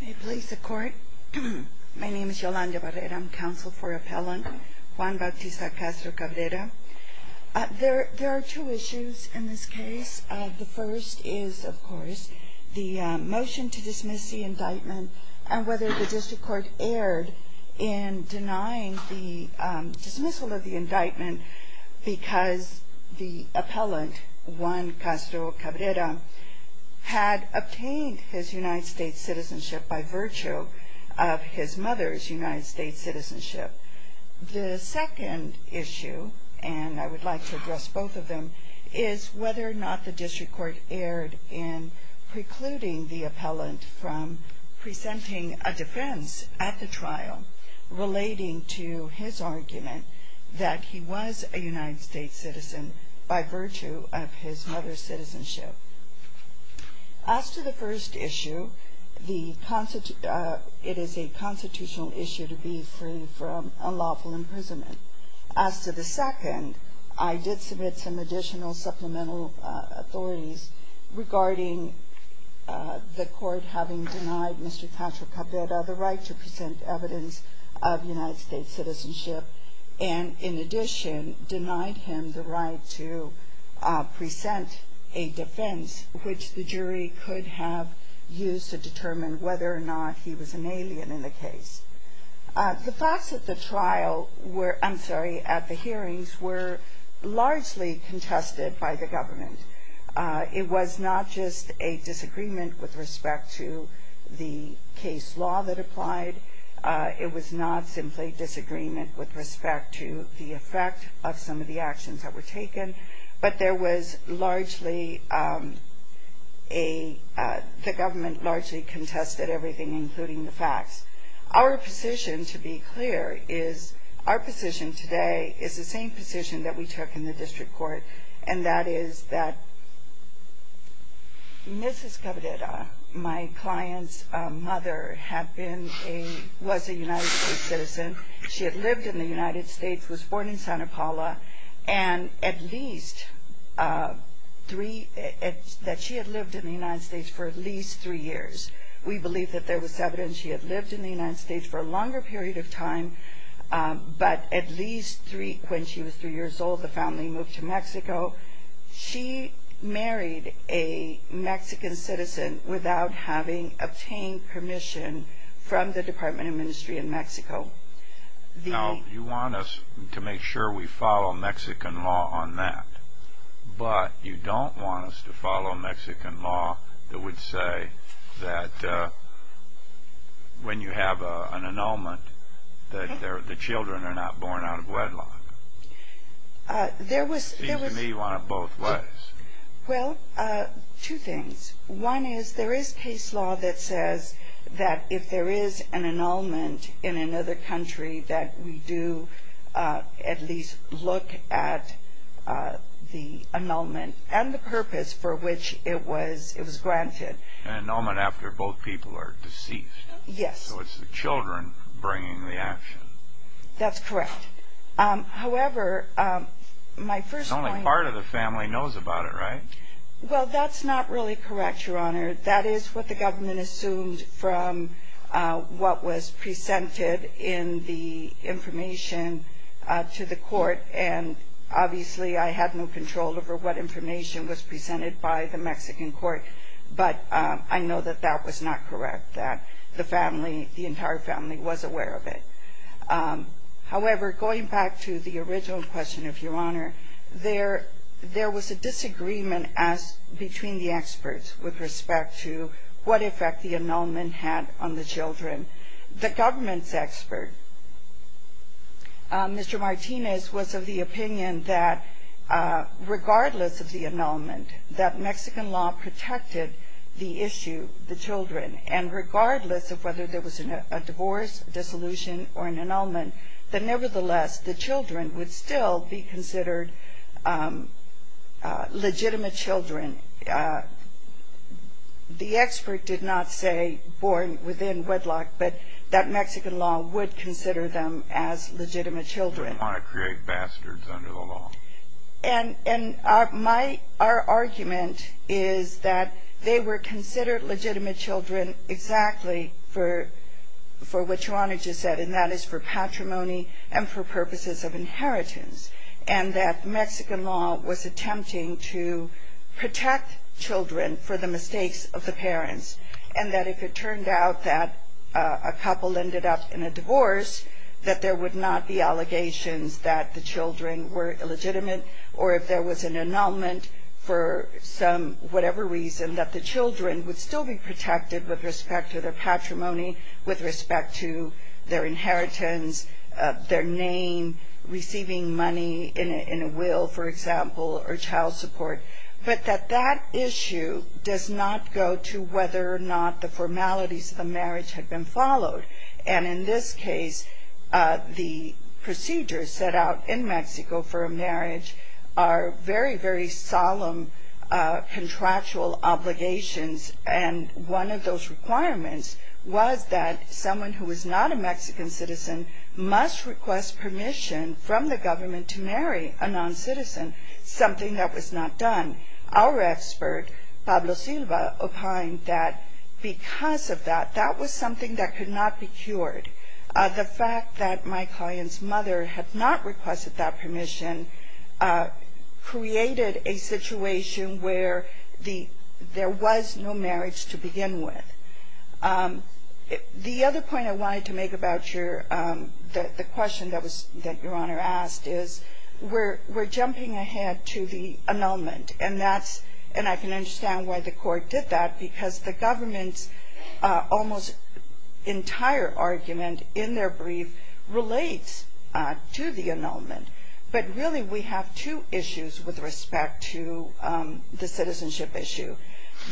May it please the court. My name is Yolanda Barrera. I'm counsel for appellant Juan Bautista Castro-Cabrera. There are two issues in this case. The first is, of course, the motion to dismiss the indictment, and whether the district court erred in denying the dismissal of the indictment because the appellant, Juan Castro-Cabrera, had obtained his United States citizenship by virtue of his mother's United States citizenship. The second issue, and I would like to address both of them, is whether or not the district court erred in precluding the appellant from presenting a defense at the trial relating to his argument that he was a United States citizen by virtue of his mother's citizenship. As to the first issue, it is a constitutional issue to be free from unlawful imprisonment. As to the second, I did submit some additional supplemental authorities regarding the court having denied Mr. Castro-Cabrera the right to present evidence of United States citizenship, and in addition, denied him the right to present a defense which the jury could have used to determine whether or not he was an alien in the case. The facts at the trial were, I'm sorry, at the hearings, were largely contested by the government. It was not just a disagreement with respect to the case law that applied. It was not simply disagreement with respect to the effect of some of the actions that were taken, but there was largely a, the government largely contested everything, including the facts. Our position, to be clear, is our position today is the same position that we took in the district court, and that is that Mrs. Cabrera, my client's mother, had been a, was a United States citizen. She had lived in the United States, was born in Santa Paula, and at least three, that she had lived in the United States for at least three years. We believe that there was evidence she had lived in the United States for a longer period of time, but at least three, when she was three years old, the family moved to Mexico. She married a Mexican citizen without having obtained permission from the Department of Ministry in Mexico. Now, you want us to make sure we follow Mexican law on that, but you don't want us to follow Mexican law that would say that when you have an annulment that the children are not born out of wedlock. There was... It seems to me one of both ways. Well, two things. One is there is case law that says that if there is an annulment in another country that we do at least look at the annulment and the purpose for which it was granted. An annulment after both people are deceased. Yes. So it's the children bringing the action. That's correct. However, my first point... Only part of the family knows about it, right? Well, that's not really correct, Your Honor. That is what the government assumed from what was presented in the information to the court, and obviously I had no control over what information was presented by the Mexican court, but I know that that was not correct, that the family, the entire family was aware of it. However, going back to the original question of Your Honor, there was a disagreement between the experts with respect to what effect the annulment had on the children. The government's expert, Mr. Martinez, was of the opinion that regardless of the annulment, that Mexican law protected the issue, the children, and regardless of whether there was a divorce, dissolution, or an annulment, that nevertheless the children would still be considered legitimate children. The expert did not say born within wedlock, but that Mexican law would consider them as legitimate children. You don't want to create bastards under the law. And our argument is that they were considered legitimate children exactly for what Your Honor just said, and that is for patrimony and for purposes of inheritance, and that Mexican law was attempting to protect children for the mistakes of the parents, and that if it turned out that a couple ended up in a divorce, that there would not be allegations that the children were illegitimate, or if there was an annulment for whatever reason, that the children would still be protected with respect to their patrimony, with respect to their inheritance, their name, receiving money in a will, for example, or child support, but that that issue does not go to whether or not the formalities of the marriage had been followed. And in this case, the procedures set out in Mexico for a marriage are very, very solemn contractual obligations, and one of those requirements was that someone who was not a Mexican citizen must request permission from the government to marry a noncitizen, something that was not done. Our expert, Pablo Silva, opined that because of that, that was something that could not be cured. The fact that my client's mother had not requested that permission created a situation where there was no marriage to begin with. The other point I wanted to make about the question that Your Honor asked is, we're jumping ahead to the annulment, and I can understand why the court did that, because the government's almost entire argument in their brief relates to the annulment, but really we have two issues with respect to the citizenship issue.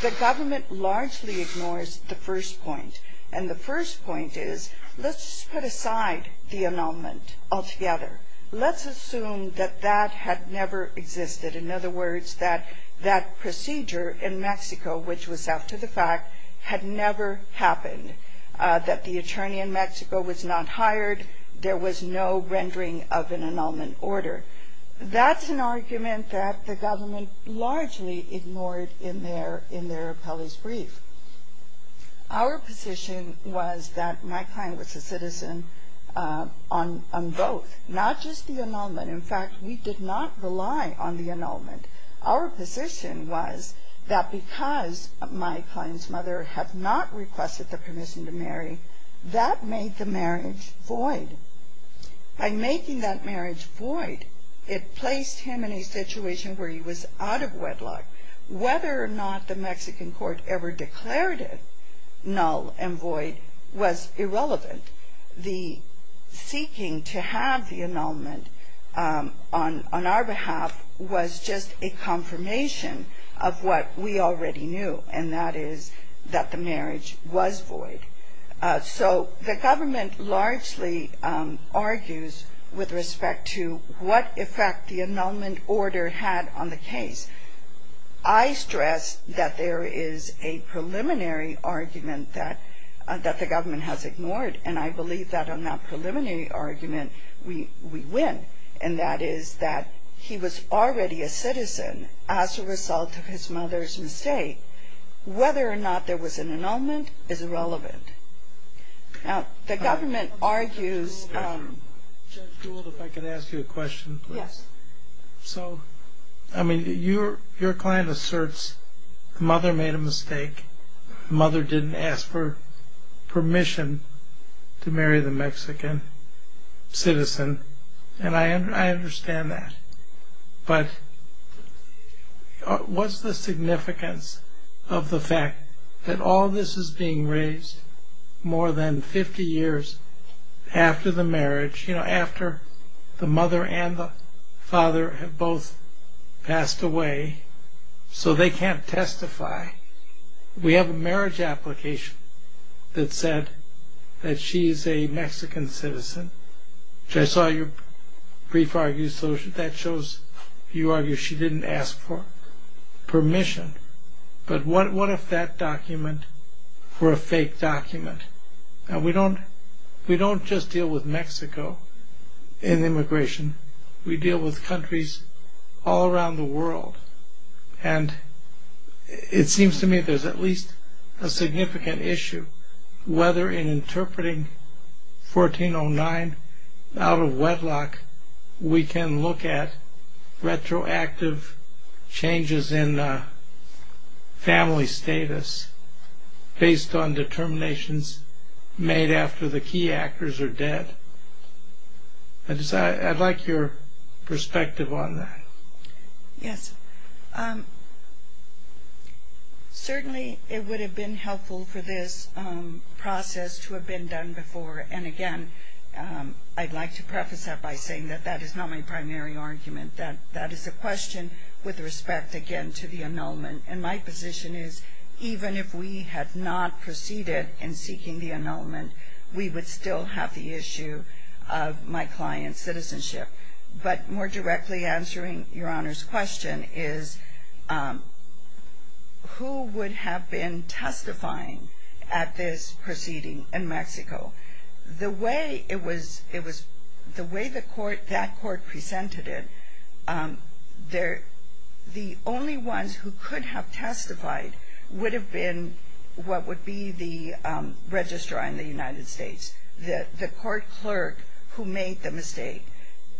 The government largely ignores the first point, and the first point is, let's put aside the annulment altogether. Let's assume that that had never existed. In other words, that that procedure in Mexico, which was after the fact, had never happened, that the attorney in Mexico was not hired, there was no rendering of an annulment order. That's an argument that the government largely ignored in their appellee's brief. Our position was that my client was a citizen on both, not just the annulment. In fact, we did not rely on the annulment. Our position was that because my client's mother had not requested the permission to marry, that made the marriage void. By making that marriage void, it placed him in a situation where he was out of wedlock. Whether or not the Mexican court ever declared it null and void was irrelevant. The seeking to have the annulment on our behalf was just a confirmation of what we already knew, and that is that the marriage was void. So the government largely argues with respect to what effect the annulment order had on the case. I stress that there is a preliminary argument that the government has ignored, and I believe that on that preliminary argument we win, and that is that he was already a citizen as a result of his mother's mistake. Whether or not there was an annulment is irrelevant. Now, the government argues... Judge Gould, if I could ask you a question, please. Yes. So, I mean, your client asserts mother made a mistake. Mother didn't ask for permission to marry the Mexican citizen, and I understand that. But what's the significance of the fact that all this is being raised more than 50 years after the marriage, you know, after the mother and the father have both passed away, so they can't testify? We have a marriage application that said that she is a Mexican citizen, which I saw your brief argue, so that shows you argue she didn't ask for permission. But what if that document were a fake document? Now, we don't just deal with Mexico in immigration. We deal with countries all around the world, and it seems to me there's at least a significant issue whether in interpreting 1409 out of wedlock we can look at retroactive changes in family status based on determinations made after the key actors are dead. I'd like your perspective on that. Yes. Certainly, it would have been helpful for this process to have been done before, and again, I'd like to preface that by saying that that is not my primary argument. That is a question with respect, again, to the annulment, and my position is even if we had not proceeded in seeking the annulment, we would still have the issue of my client's citizenship. But more directly answering your Honor's question is who would have been testifying at this proceeding in Mexico? The way that court presented it, the only ones who could have testified would have been what would be the registrar in the United States, the court clerk who made the mistake.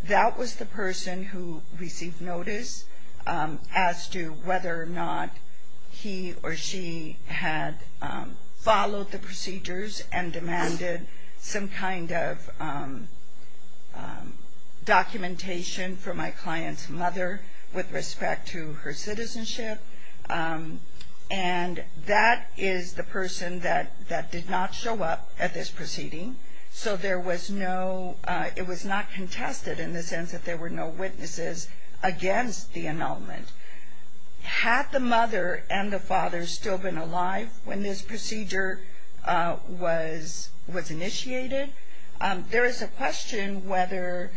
That was the person who received notice as to whether or not he or she had followed the procedures and demanded some kind of documentation from my client's mother with respect to her citizenship, and that is the person that did not show up at this proceeding, so it was not contested in the sense that there were no witnesses against the annulment. Had the mother and the father still been alive when this procedure was initiated, there is a question whether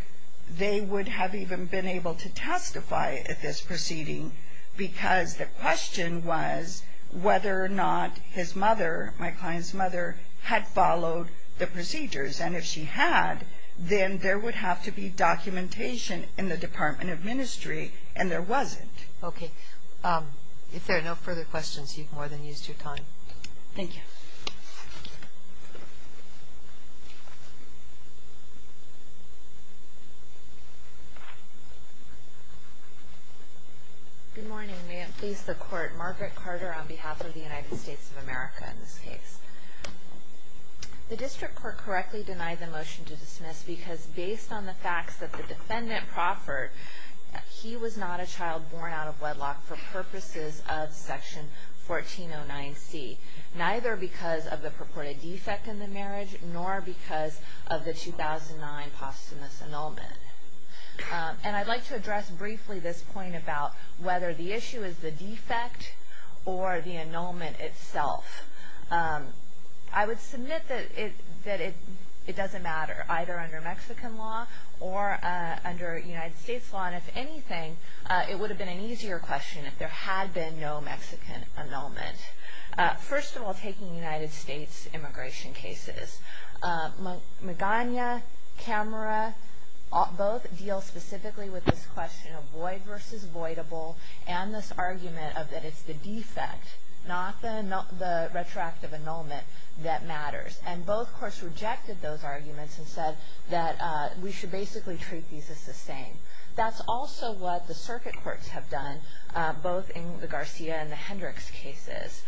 they would have even been able to testify at this proceeding because the question was whether or not his mother, my client's mother, had followed the procedures, and if she had, then there would have to be documentation in the Department of Ministry, and there wasn't. Okay. If there are no further questions, you've more than used your time. Thank you. Good morning. May it please the Court. Margaret Carter on behalf of the United States of America in this case. The district court correctly denied the motion to dismiss because based on the facts that the defendant proffered, he was not a child born out of wedlock for purposes of Section 1409C, neither because of the purported defect in the marriage nor because of the 2009 posthumous annulment. And I'd like to address briefly this point about whether the issue is the defect or the annulment itself. I would submit that it doesn't matter, either under Mexican law or under United States law, and if anything, it would have been an easier question if there had been no Mexican annulment. First of all, taking United States immigration cases. Magana, Camera, both deal specifically with this question of void versus voidable, and this argument of that it's the defect, not the retroactive annulment, that matters. And both courts rejected those arguments and said that we should basically treat these as the same. That's also what the circuit courts have done, both in the Garcia and the Hendricks cases.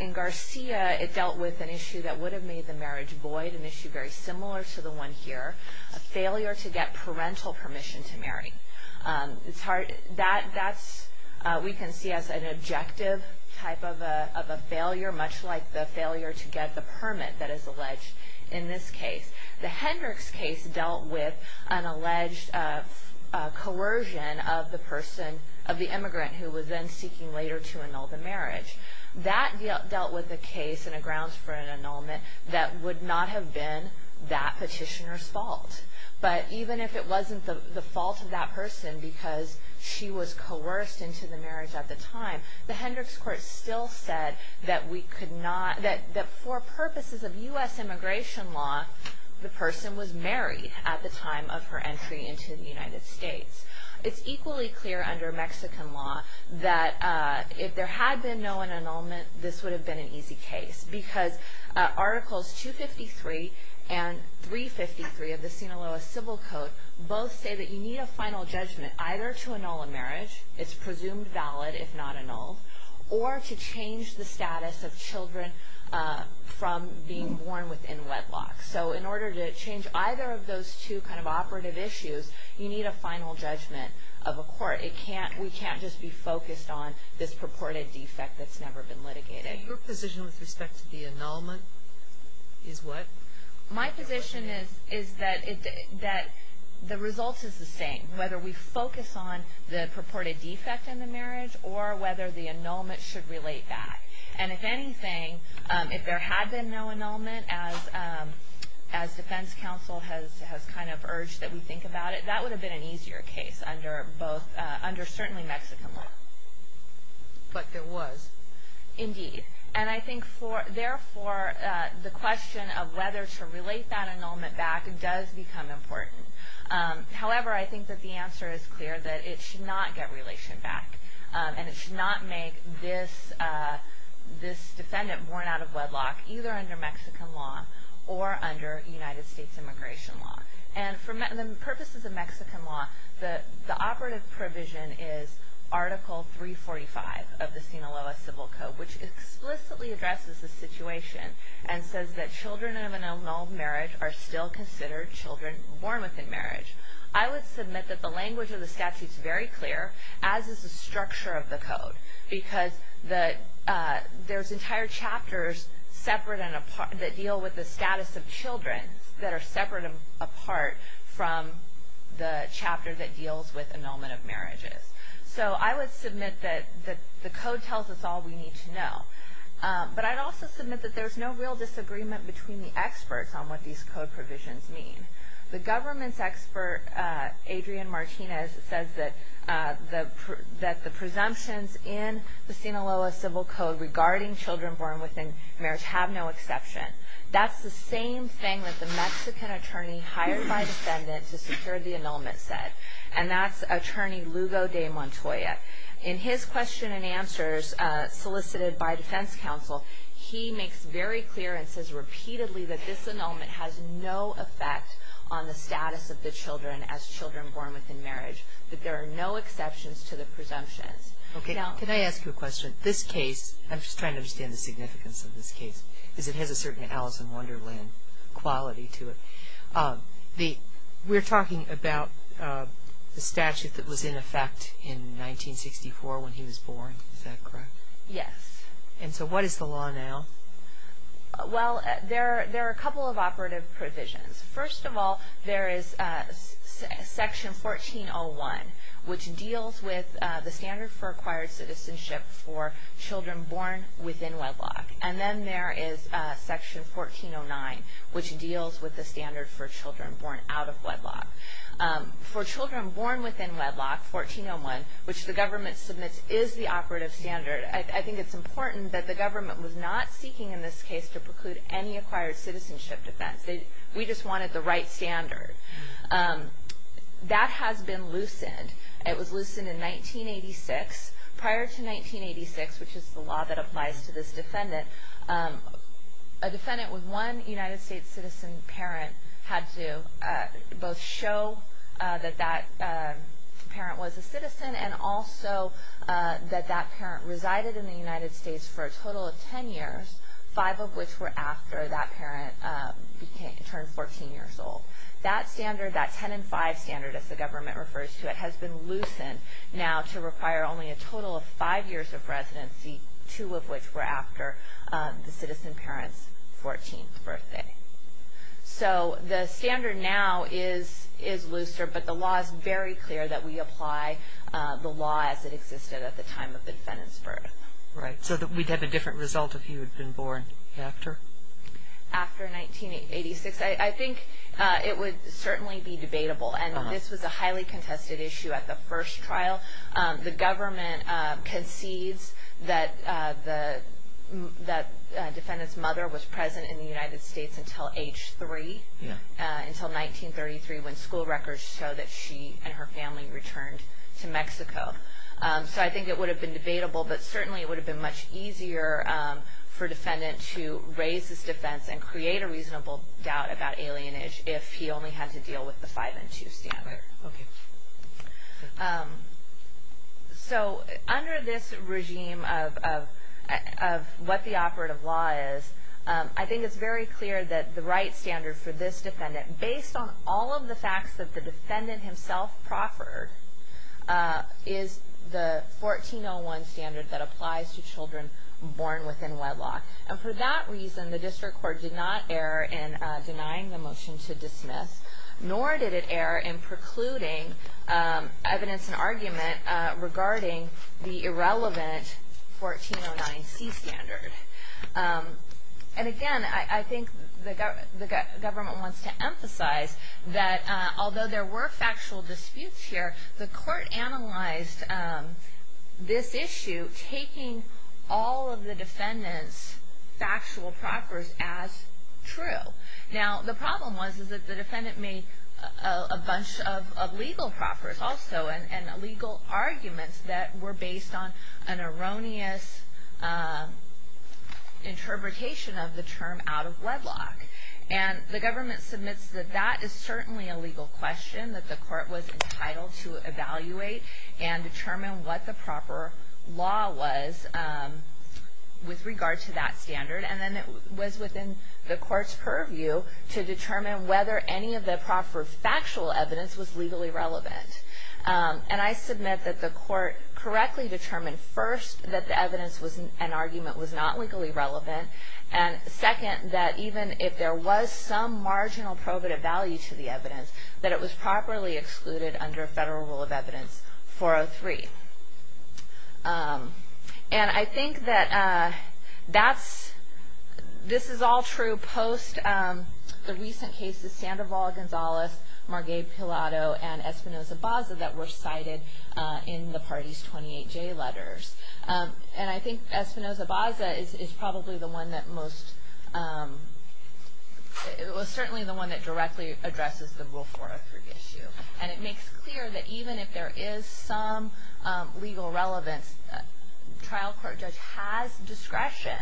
In Garcia, it dealt with an issue that would have made the marriage void, an issue very similar to the one here, a failure to get parental permission to marry. It's hard, that's, we can see as an objective type of a failure, much like the failure to get the permit that is alleged in this case. The Hendricks case dealt with an alleged coercion of the person, of the immigrant who was then seeking later to annul the marriage. That dealt with the case in a grounds for an annulment that would not have been that petitioner's fault. But even if it wasn't the fault of that person because she was coerced into the marriage at the time, the Hendricks court still said that we could not, that for purposes of U.S. immigration law, the person was married at the time of her entry into the United States. It's equally clear under Mexican law that if there had been no annulment, this would have been an easy case. Because Articles 253 and 353 of the Sinaloa Civil Code both say that you need a final judgment, either to annul a marriage, it's presumed valid if not annulled, or to change the status of children from being born within wedlock. So in order to change either of those two kind of operative issues, you need a final judgment of a court. It can't, we can't just be focused on this purported defect that's never been litigated. Your position with respect to the annulment is what? My position is that the result is the same, whether we focus on the purported defect in the marriage or whether the annulment should relate back. And if anything, if there had been no annulment, as defense counsel has kind of urged that we think about it, that would have been an easier case under both, under certainly Mexican law. But there was. Indeed. And I think therefore the question of whether to relate that annulment back does become important. However, I think that the answer is clear that it should not get relation back. And it should not make this defendant born out of wedlock either under Mexican law or under United States immigration law. And for purposes of Mexican law, the operative provision is Article 345 of the Sinaloa Civil Code, which explicitly addresses the situation and says that children of an annulled marriage are still considered children born within marriage. I would submit that the language of the statute is very clear, as is the structure of the code, because there's entire chapters separate and apart that deal with the status of children that are separate and apart from the chapter that deals with annulment of marriages. So I would submit that the code tells us all we need to know. But I'd also submit that there's no real disagreement between the experts on what these code provisions mean. The government's expert, Adrian Martinez, says that the presumptions in the Sinaloa Civil Code regarding children born within marriage have no exception. That's the same thing that the Mexican attorney hired by the defendant to secure the annulment said. And that's Attorney Lugo de Montoya. In his question and answers solicited by defense counsel, he makes very clear and says repeatedly that this annulment has no effect on the status of the children as children born within marriage, that there are no exceptions to the presumptions. Okay. Can I ask you a question? This case, I'm just trying to understand the significance of this case, because it has a certain Alice in Wonderland quality to it. We're talking about the statute that was in effect in 1964 when he was born. Is that correct? Yes. And so what is the law now? Well, there are a couple of operative provisions. First of all, there is Section 1401, which deals with the standard for acquired citizenship for children born within wedlock. And then there is Section 1409, which deals with the standard for children born out of wedlock. For children born within wedlock, 1401, which the government submits is the operative standard. I think it's important that the government was not seeking in this case to preclude any acquired citizenship defense. We just wanted the right standard. That has been loosened. It was loosened in 1986. Prior to 1986, which is the law that applies to this defendant, a defendant with one United States citizen parent had to both show that that parent was a citizen and also that that parent resided in the United States for a total of 10 years, five of which were after that parent turned 14 years old. That standard, that 10-in-5 standard, as the government refers to it, has been loosened now to require only a total of five years of residency, two of which were after the citizen parent's 14th birthday. So the standard now is looser, but the law is very clear that we apply the law as it existed at the time of the defendant's birth. Right. So we'd have a different result if he had been born after? After 1986. I think it would certainly be debatable. And this was a highly contested issue at the first trial. The government concedes that the defendant's mother was present in the United States until age three, until 1933 when school records show that she and her family returned to Mexico. So I think it would have been debatable, but certainly it would have been much easier for a defendant to raise his defense and create a reasonable doubt about alienage if he only had to deal with the 5-in-2 standard. Okay. So under this regime of what the operative law is, I think it's very clear that the right standard for this defendant, based on all of the facts that the defendant himself proffered, is the 1401 standard that applies to children born within wedlock. And for that reason, the district court did not err in denying the motion to dismiss, nor did it err in precluding evidence and argument regarding the irrelevant 1409C standard. And again, I think the government wants to emphasize that although there were factual disputes here, the court analyzed this issue taking all of the defendant's factual proffers as true. Now, the problem was that the defendant made a bunch of legal proffers also, and legal arguments that were based on an erroneous interpretation of the term out of wedlock. And the government submits that that is certainly a legal question, that the court was entitled to evaluate and determine what the proper law was with regard to that standard. And then it was within the court's purview to determine whether any of the proper factual evidence was legally relevant. And I submit that the court correctly determined, first, that the evidence and argument was not legally relevant, and second, that even if there was some marginal probative value to the evidence, that it was properly excluded under Federal Rule of Evidence 403. And I think that that's, this is all true post the recent cases, Sandoval, Gonzales, Margue Pilato, and Espinoza-Baza that were cited in the party's 28J letters. And I think Espinoza-Baza is probably the one that most, it was certainly the one that directly addresses the Rule 403 issue. And it makes clear that even if there is some legal relevance, trial court judge has discretion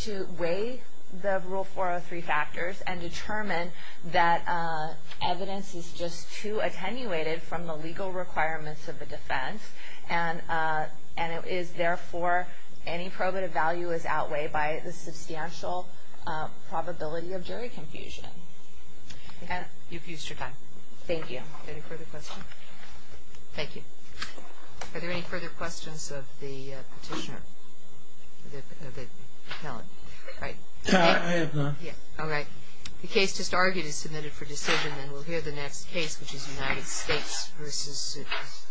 to weigh the Rule 403 factors and determine that evidence is just too attenuated from the legal requirements of the defense. And it is, therefore, any probative value is outweighed by the substantial probability of jury confusion. You've used your time. Thank you. Any further questions? Thank you. Are there any further questions of the petitioner? The appellant, right? I have none. Yeah, all right. The case just argued is submitted for decision, and we'll hear the next case, which is United States v. Souders.